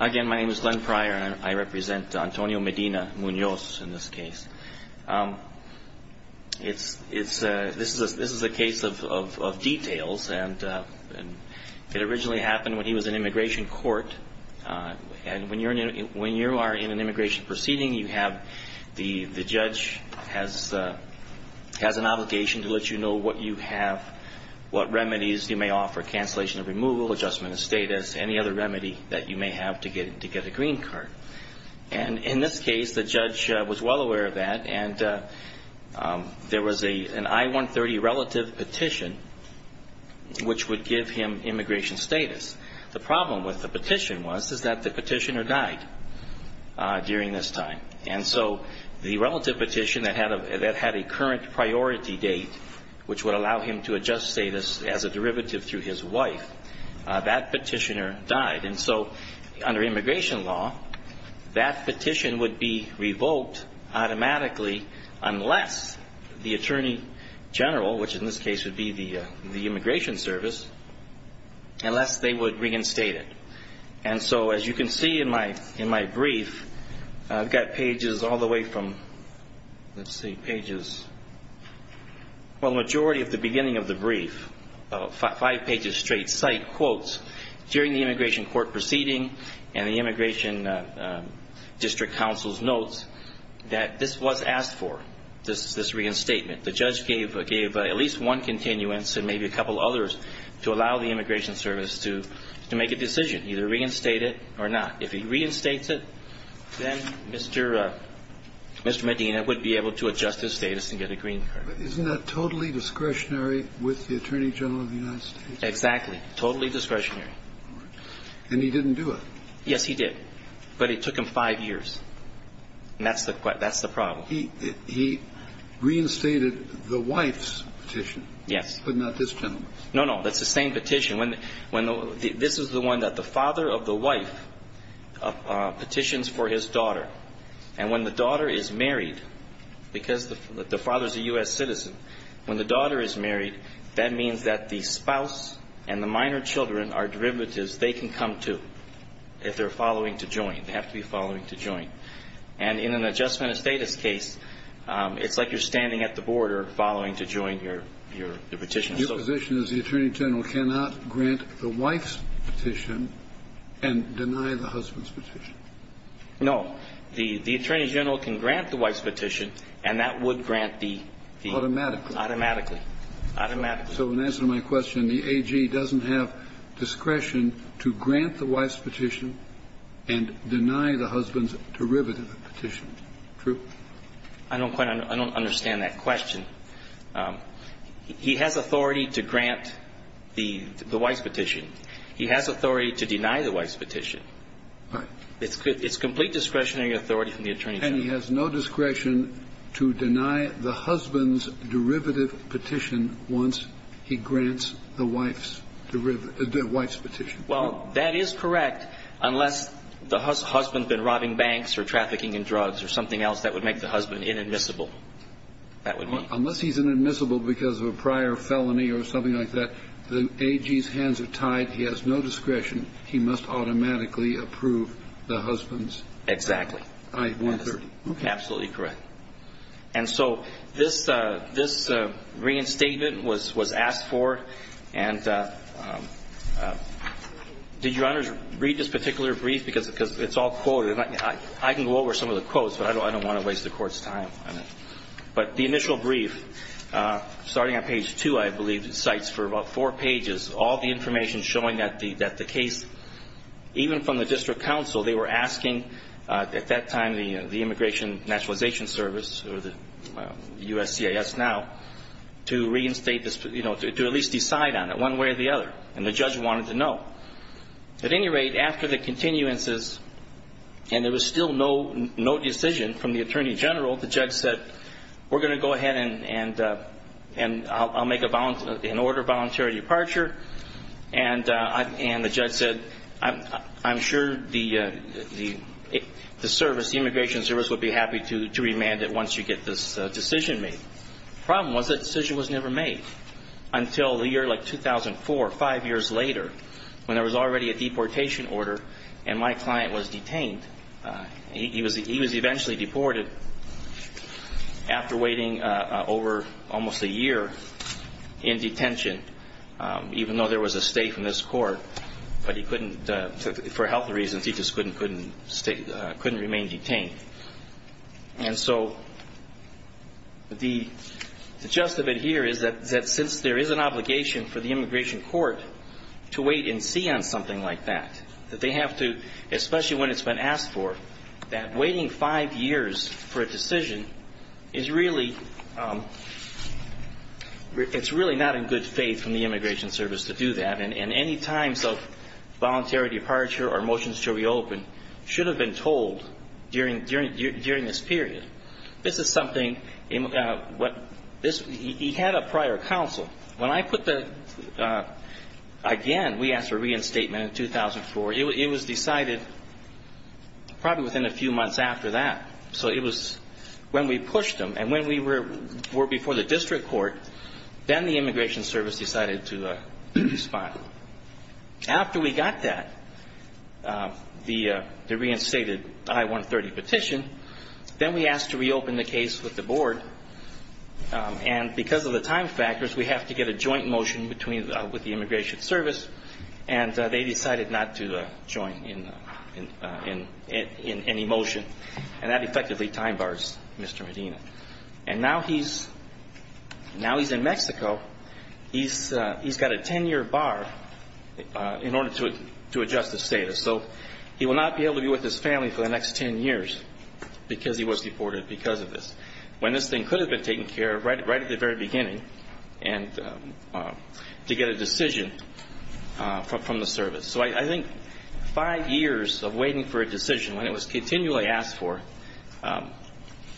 Again, my name is Glenn Pryor, and I represent Antonio Medina-Munoz in this case. This is a case of details, and it originally happened when he was in immigration court. And when you are in an immigration proceeding, the judge has an obligation to let you know what you have, what remedies you may offer, cancellation of removal, adjustment of status, any other remedy that you may have to get a green card. And in this case, the judge was well aware of that, and there was an I-130 relative petition, which would give him immigration status. The problem with the petition was that the petitioner died during this time. And so the relative petition that had a current priority date, which would allow him to adjust status as a derivative through his wife, that petitioner died. And so under immigration law, that petition would be revoked automatically unless the attorney general, which in this case would be the immigration service, unless they would reinstate it. And so as you can see in my brief, I've got pages all the way from, let's see, pages, well, the majority of the beginning of the brief, five pages straight, cite quotes during the immigration court proceeding and the immigration district counsel's notes that this was asked for, this reinstatement. The judge gave at least one continuance and maybe a couple others to allow the immigration service to make a decision, either reinstate it or not. If he reinstates it, then Mr. Medina would be able to adjust his status and get a green card. Isn't that totally discretionary with the attorney general of the United States? Exactly. Totally discretionary. And he didn't do it. Yes, he did. But it took him five years. And that's the problem. He reinstated the wife's petition. Yes. But not this gentleman's. No, no. That's the same petition. This is the one that the father of the wife petitions for his daughter. And when the daughter is married, because the father is a U.S. citizen, when the daughter is married, that means that the spouse and the minor children are derivatives they can come to if they're following to join. They have to be following to join. And in an adjustment of status case, it's like you're standing at the border following to join your petition. Your position is the attorney general cannot grant the wife's petition and deny the husband's petition. No. The attorney general can grant the wife's petition, and that would grant the ---- Automatically. Automatically. Automatically. So in answer to my question, the AG doesn't have discretion to grant the wife's petition and deny the husband's derivative petition. True? I don't quite understand that question. He has authority to grant the wife's petition. He has authority to deny the wife's petition. Right. It's complete discretionary authority from the attorney general. And he has no discretion to deny the husband's derivative petition once he grants the wife's petition. Well, that is correct unless the husband's been robbing banks or trafficking in drugs or something else that would make the husband inadmissible. That would be. Unless he's inadmissible because of a prior felony or something like that, the AG's hands are tied. He has no discretion. He must automatically approve the husband's. Exactly. I-130. Absolutely correct. And so this reinstatement was asked for, and did Your Honors read this particular brief because it's all quoted. I can go over some of the quotes, but I don't want to waste the Court's time on it. But the initial brief, starting on page 2, I believe, cites for about four pages all the information showing that the case, even from the district counsel, they were asking at that time the Immigration Naturalization Service, or the USCIS now, to reinstate this, you know, to at least decide on it one way or the other. And the judge wanted to know. At any rate, after the continuances, and there was still no decision from the attorney general, the judge said, we're going to go ahead and I'll make an order of voluntary departure. And the judge said, I'm sure the service, the Immigration Service, would be happy to remand it once you get this decision made. The problem was that decision was never made until the year like 2004, five years later, when there was already a deportation order and my client was detained. He was eventually deported after waiting over almost a year in detention, even though there was a state from this court, but he couldn't, for health reasons, he just couldn't remain detained. And so the gist of it here is that since there is an obligation for the immigration court to wait and see on something like that, that they have to, especially when it's been asked for, that waiting five years for a decision is really, it's really not in good faith from the Immigration Service to do that. And any times of voluntary departure or motions to reopen should have been told during this period. This is something, he had a prior counsel. When I put the, again, we asked for reinstatement in 2004, it was decided probably within a few months after that. So it was when we pushed him and when we were before the district court, then the Immigration Service decided to respond. After we got that, the reinstated I-130 petition, then we asked to reopen the case with the board. And because of the time factors, we have to get a joint motion with the Immigration Service, and they decided not to join in any motion. And that effectively time bars Mr. Medina. And now he's in Mexico. He's got a 10-year bar in order to adjust his status. So he will not be able to be with his family for the next 10 years because he was deported because of this. When this thing could have been taken care of right at the very beginning and to get a decision from the service. So I think five years of waiting for a decision when it was continually asked for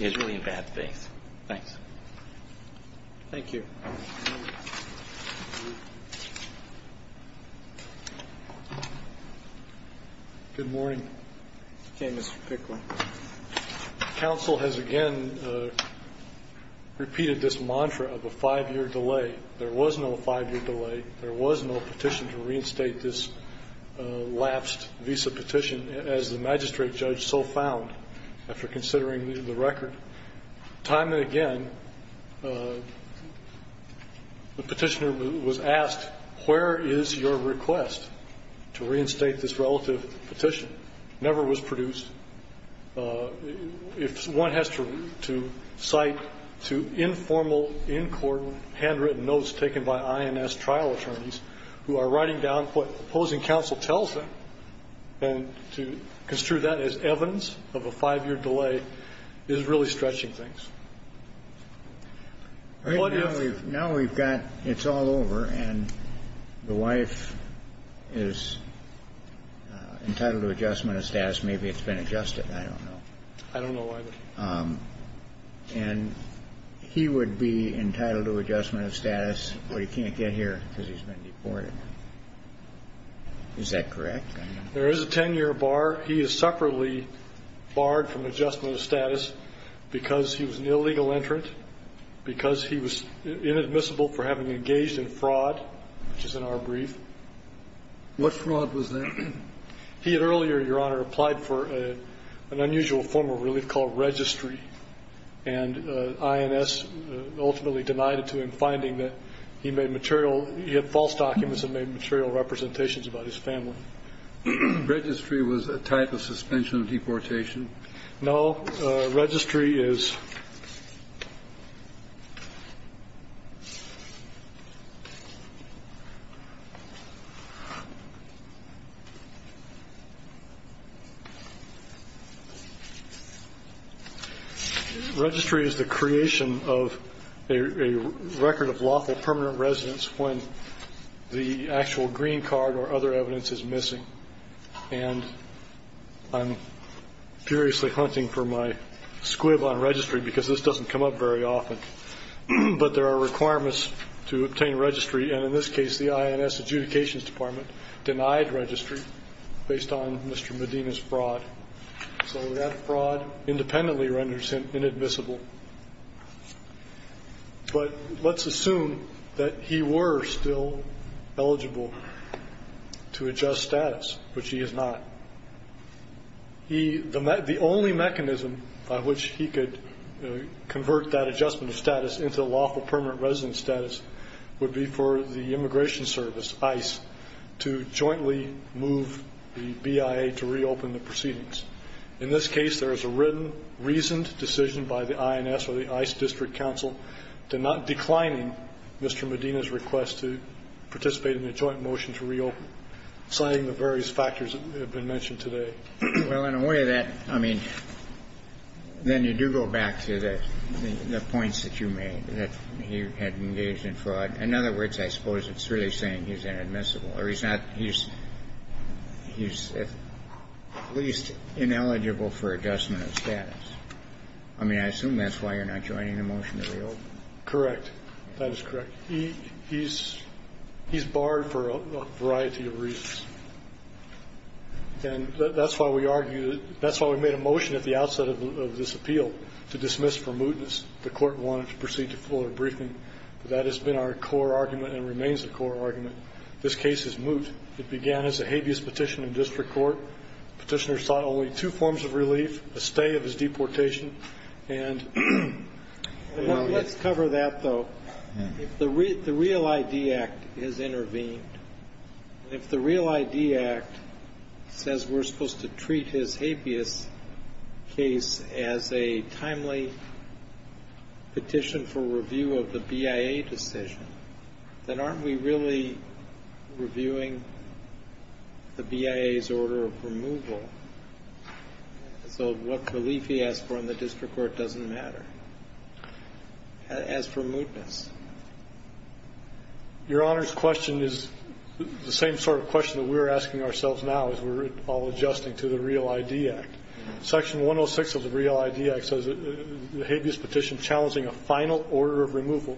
is really in bad faith. Thanks. Thank you. Good morning. Okay, Mr. Pickley. Counsel has again repeated this mantra of a five-year delay. There was no five-year delay. There was no petition to reinstate this lapsed visa petition, as the magistrate judge so found after considering the record. Time and again, the petitioner was asked, where is your request to reinstate this relative petition? It never was produced. If one has to cite two informal, in-court, handwritten notes taken by INS trial attorneys who are writing down what opposing counsel tells them, and to construe that as evidence of a five-year delay is really stretching things. Now we've got, it's all over, and the wife is entitled to adjustment of status. Maybe it's been adjusted. I don't know. I don't know either. And he would be entitled to adjustment of status, but he can't get here because he's been deported. Is that correct? There is a 10-year bar. He is separately barred from adjustment of status because he was an illegal entrant, because he was inadmissible for having engaged in fraud, which is in our brief. What fraud was that? He had earlier, Your Honor, applied for an unusual form of relief called registry, and INS ultimately denied it to him, finding that he made material, he had false documents and made material representations about his family. Registry was a type of suspension of deportation? No. Registry is the creation of a record of lawful permanent residence when the actual green card or other evidence is missing. And I'm furiously hunting for my squib on registry because this doesn't come up very often. But there are requirements to obtain registry, and in this case, the INS adjudications department denied registry based on Mr. Medina's fraud. So that fraud independently renders him inadmissible. But let's assume that he were still eligible to adjust status, which he is not. The only mechanism by which he could convert that adjustment of status into lawful permanent residence status would be for the immigration service, ICE, to jointly move the BIA to reopen the proceedings. In this case, there is a written, reasoned decision by the INS or the ICE district counsel to not declining Mr. Medina's request to participate in the joint motion to reopen, citing the various factors that have been mentioned today. Well, in a way, that, I mean, then you do go back to the points that you made, that he had engaged in fraud. In other words, I suppose it's really saying he's inadmissible or he's not he's at least ineligible for adjustment of status. I mean, I assume that's why you're not joining the motion to reopen. Correct. That is correct. He's barred for a variety of reasons. And that's why we argued, that's why we made a motion at the outset of this appeal to dismiss for mootness. The Court wanted to proceed to fuller briefing. That has been our core argument and remains the core argument. This case is moot. It began as a habeas petition in district court. Petitioner sought only two forms of relief, a stay of his deportation and Let's cover that, though. If the Real ID Act has intervened, if the Real ID Act says we're supposed to treat his habeas case as a timely petition for review of the BIA decision, then aren't we really reviewing the BIA's order of removal? So what relief he has for the district court doesn't matter as for mootness. Your Honor's question is the same sort of question that we're asking ourselves now as we're all adjusting to the Real ID Act. Section 106 of the Real ID Act says the habeas petition challenging a final order of removal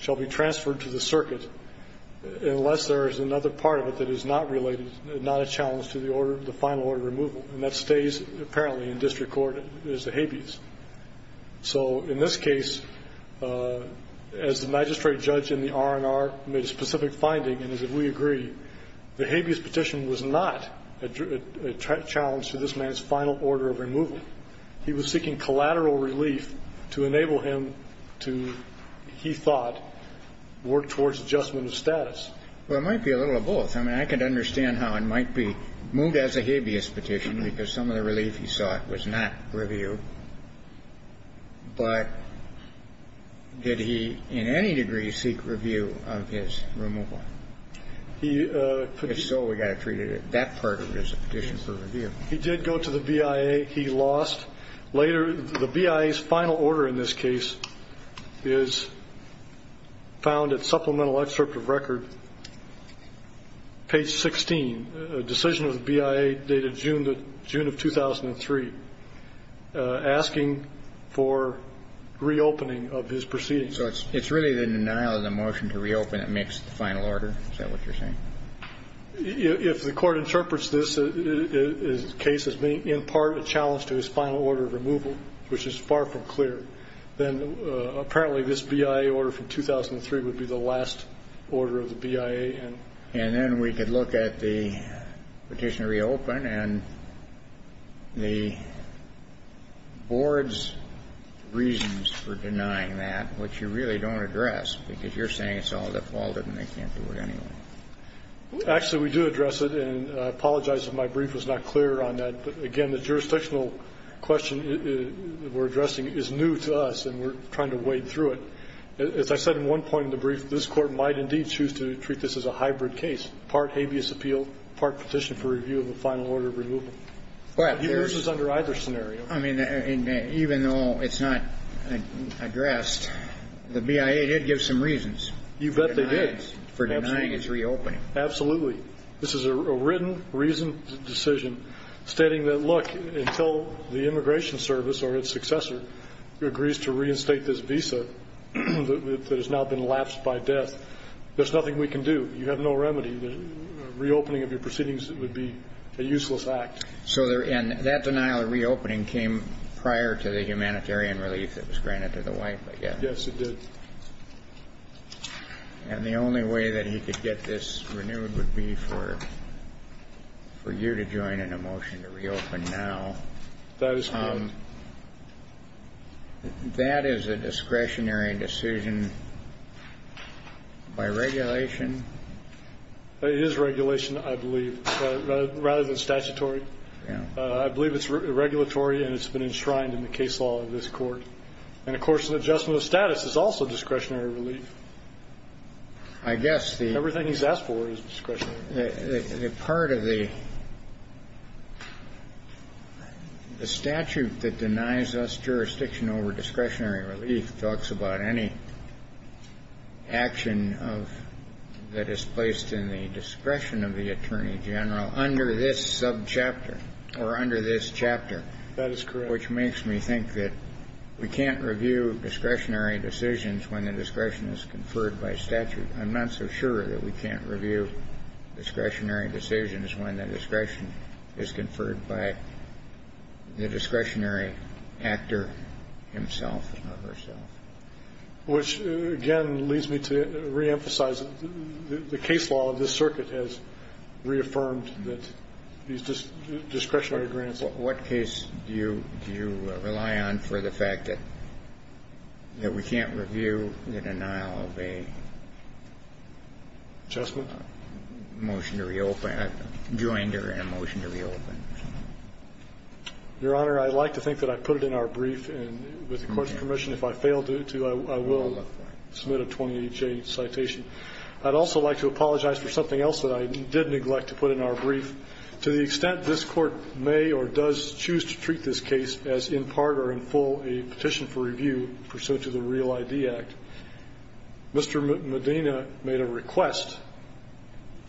shall be transferred to the circuit unless there is another part of it that is not related, not a challenge to the order, the final order of removal. And that stays, apparently, in district court as the habeas. So in this case, as the magistrate judge in the R&R made a specific finding, and as if we agree, the habeas petition was not a challenge to this man's final order of removal. He was seeking collateral relief to enable him to, he thought, work towards adjustment of status. Well, it might be a little of both. I mean, I can understand how it might be moved as a habeas petition because some of the relief he sought was not reviewed. But did he in any degree seek review of his removal? If so, we've got to treat that part of it as a petition for review. He did go to the BIA. He lost. Later, the BIA's final order in this case is found at supplemental excerpt of record, page 16, a decision of the BIA dated June of 2003, asking for reopening of his proceedings. So it's really the denial of the motion to reopen that makes the final order? Is that what you're saying? If the Court interprets this case as being in part a challenge to his final order of removal, which is far from clear, then apparently this BIA order from 2003 would be the last order of the BIA. And then we could look at the petition to reopen and the board's reasons for denying that, which you really don't address because you're saying it's all defaulted and they can't do it anyway. Actually, we do address it. And I apologize if my brief was not clear on that. Again, the jurisdictional question we're addressing is new to us and we're trying to wade through it. As I said in one point in the brief, this Court might indeed choose to treat this as a hybrid case, part habeas appeal, part petition for review of the final order of removal. But he loses under either scenario. I mean, even though it's not addressed, the BIA did give some reasons. You bet they did. For denying its reopening. Absolutely. This is a written, reasoned decision stating that, look, until the Immigration Service or its successor agrees to reinstate this visa that has now been lapsed by death, there's nothing we can do. You have no remedy. The reopening of your proceedings would be a useless act. And that denial of reopening came prior to the humanitarian relief that was granted to the White. Yes, it did. And the only way that he could get this renewed would be for you to join in a motion to reopen now. That is correct. That is a discretionary decision by regulation. It is regulation, I believe, rather than statutory. I believe it's regulatory and it's been enshrined in the case law of this Court. And, of course, an adjustment of status is also discretionary relief. I guess the. Everything he's asked for is discretionary. The part of the statute that denies us jurisdiction over discretionary relief talks about any action that is placed in the discretion of the Attorney General under this subchapter or under this chapter. That is correct. Which makes me think that we can't review discretionary decisions when the discretion is conferred by statute. I'm not so sure that we can't review discretionary decisions when the discretion is conferred by the discretionary actor himself or herself. Which, again, leads me to reemphasize the case law of this circuit has reaffirmed that these discretionary grants. What case do you rely on for the fact that we can't review the denial of a. Adjustment. Motion to reopen. I joined her in a motion to reopen. Your Honor, I'd like to think that I put it in our brief. And with the Court's permission, if I fail to, I will submit a 28-J citation. I'd also like to apologize for something else that I did neglect to put in our brief. To the extent this Court may or does choose to treat this case as in part or in full a petition for review pursuant to the Real ID Act, Mr. Medina made a request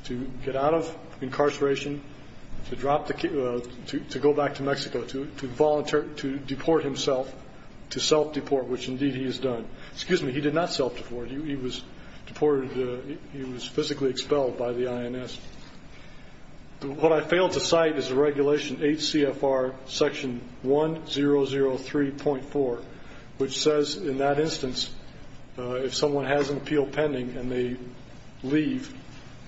to get out of incarceration, to drop the case to go back to Mexico, to volunteer, to deport himself, to self-deport, which indeed he has done. Excuse me. He did not self-deport. He was deported. He was physically expelled by the INS. What I failed to cite is the Regulation 8 CFR Section 1003.4, which says in that instance if someone has an appeal pending and they leave,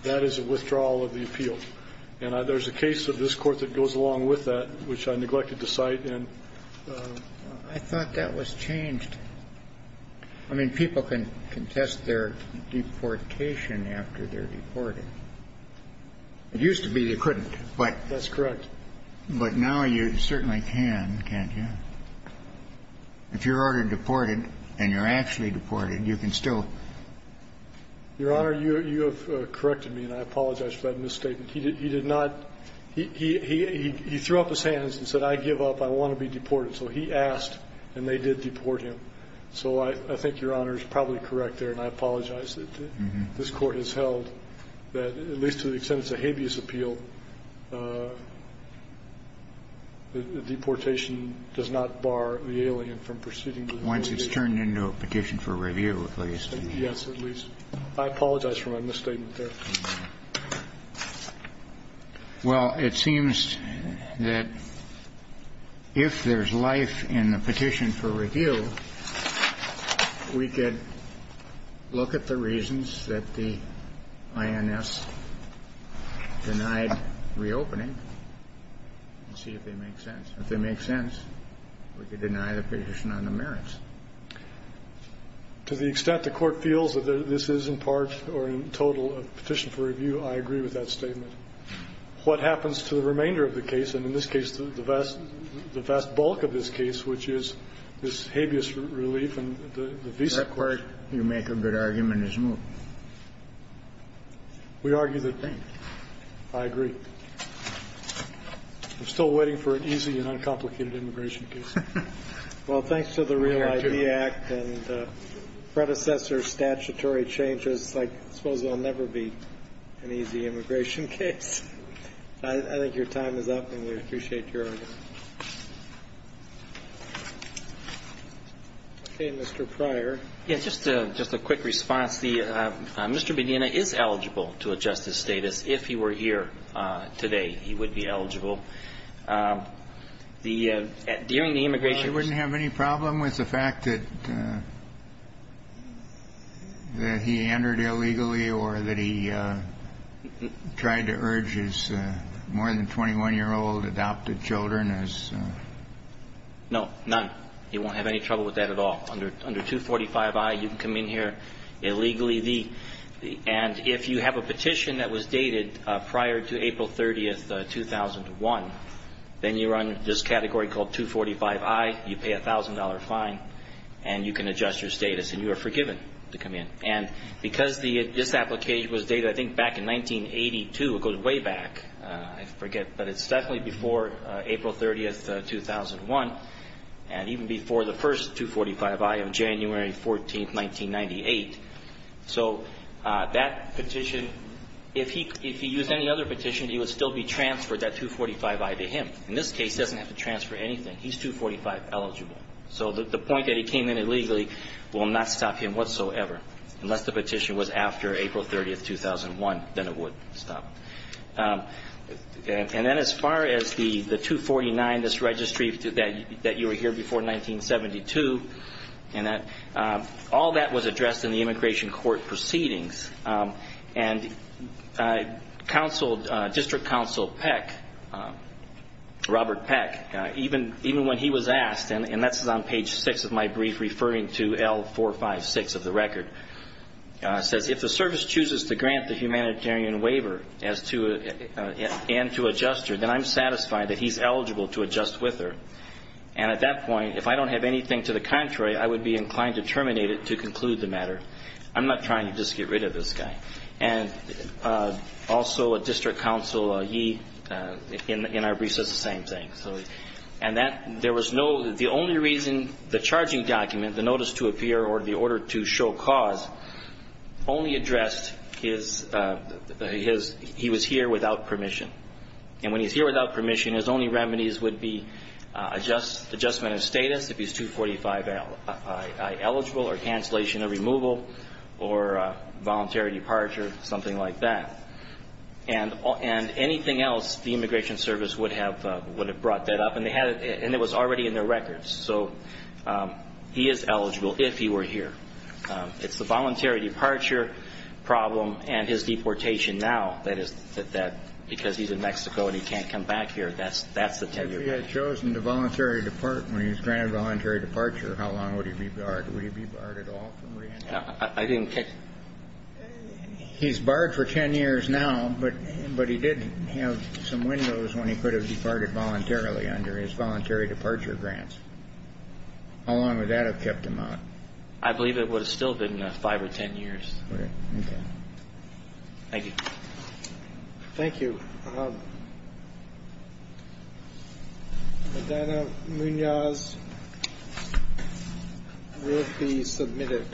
that is a withdrawal of the appeal. And there's a case of this Court that goes along with that, which I neglected to cite. I thought that was changed. I mean, people can contest their deportation after they're deported. It used to be you couldn't. That's correct. But now you certainly can, can't you? If you're ordered deported and you're actually deported, you can still. Your Honor, you have corrected me, and I apologize for that misstatement. He did not. He threw up his hands and said, I give up. I want to be deported. So he asked, and they did deport him. So I think Your Honor is probably correct there, and I apologize that this Court has held that, at least to the extent it's a habeas appeal, the deportation does not bar the alien from proceeding to the United States. Once it's turned into a petition for review, at least. Yes, at least. I apologize for my misstatement there. Well, it seems that if there's life in the petition for review, we could look at the INS denied reopening and see if they make sense. If they make sense, we could deny the petition on the merits. To the extent the Court feels that this is in part or in total a petition for review, I agree with that statement. What happens to the remainder of the case, and in this case the vast, the vast bulk of this case, which is this habeas relief and the visa court? You make a good argument as you move. We argue the same. I agree. I'm still waiting for an easy and uncomplicated immigration case. Well, thanks to the Real ID Act and predecessor statutory changes, I suppose there will never be an easy immigration case. I think your time is up, and we appreciate your argument. Okay, Mr. Pryor. Yes, just a quick response. Mr. Bedina is eligible to adjust his status. If he were here today, he would be eligible. During the immigration ---- He wouldn't have any problem with the fact that he entered illegally or that he tried to urge his more than 21-year-old adopted children as ---- No, none. He won't have any trouble with that at all. Under 245I, you can come in here illegally. And if you have a petition that was dated prior to April 30th, 2001, then you're under this category called 245I. You pay a $1,000 fine, and you can adjust your status, and you are forgiven to come in. And because this application was dated, I think, back in 1982, it goes way back. I forget, but it's definitely before April 30th, 2001. And even before the first 245I of January 14th, 1998. So that petition, if he used any other petition, he would still be transferred that 245I to him. In this case, he doesn't have to transfer anything. He's 245 eligible. So the point that he came in illegally will not stop him whatsoever, unless the petition was after April 30th, 2001, then it would stop. And then as far as the 249, this registry that you were here before 1972, all that was addressed in the immigration court proceedings. And District Counsel Peck, Robert Peck, even when he was asked, and that's on page 6 of my brief referring to L456 of the record, says, If the service chooses to grant the humanitarian waiver and to adjust her, then I'm satisfied that he's eligible to adjust with her. And at that point, if I don't have anything to the contrary, I would be inclined to terminate it to conclude the matter. I'm not trying to just get rid of this guy. And also a District Counsel, he, in our brief, says the same thing. And that there was no, the only reason the charging document, the notice to appear or the order to show cause only addressed his, he was here without permission. And when he's here without permission, his only remedies would be adjustment of status if he's 245 eligible, or cancellation of removal, or voluntary departure, something like that. And anything else, the Immigration Service would have brought that up, and it was already in their records. So he is eligible if he were here. It's the voluntary departure problem and his deportation now that is, because he's in Mexico and he can't come back here, that's the 10-year period. If he had chosen to voluntary depart when he was granted voluntary departure, how long would he be barred? Would he be barred at all from re-entering? I didn't. He's barred for 10 years now, but he did have some windows when he could have departed voluntarily under his voluntary departure grants. How long would that have kept him out? I believe it would have still been 5 or 10 years. Okay. Thank you. Thank you. Madonna Munoz will be submitted.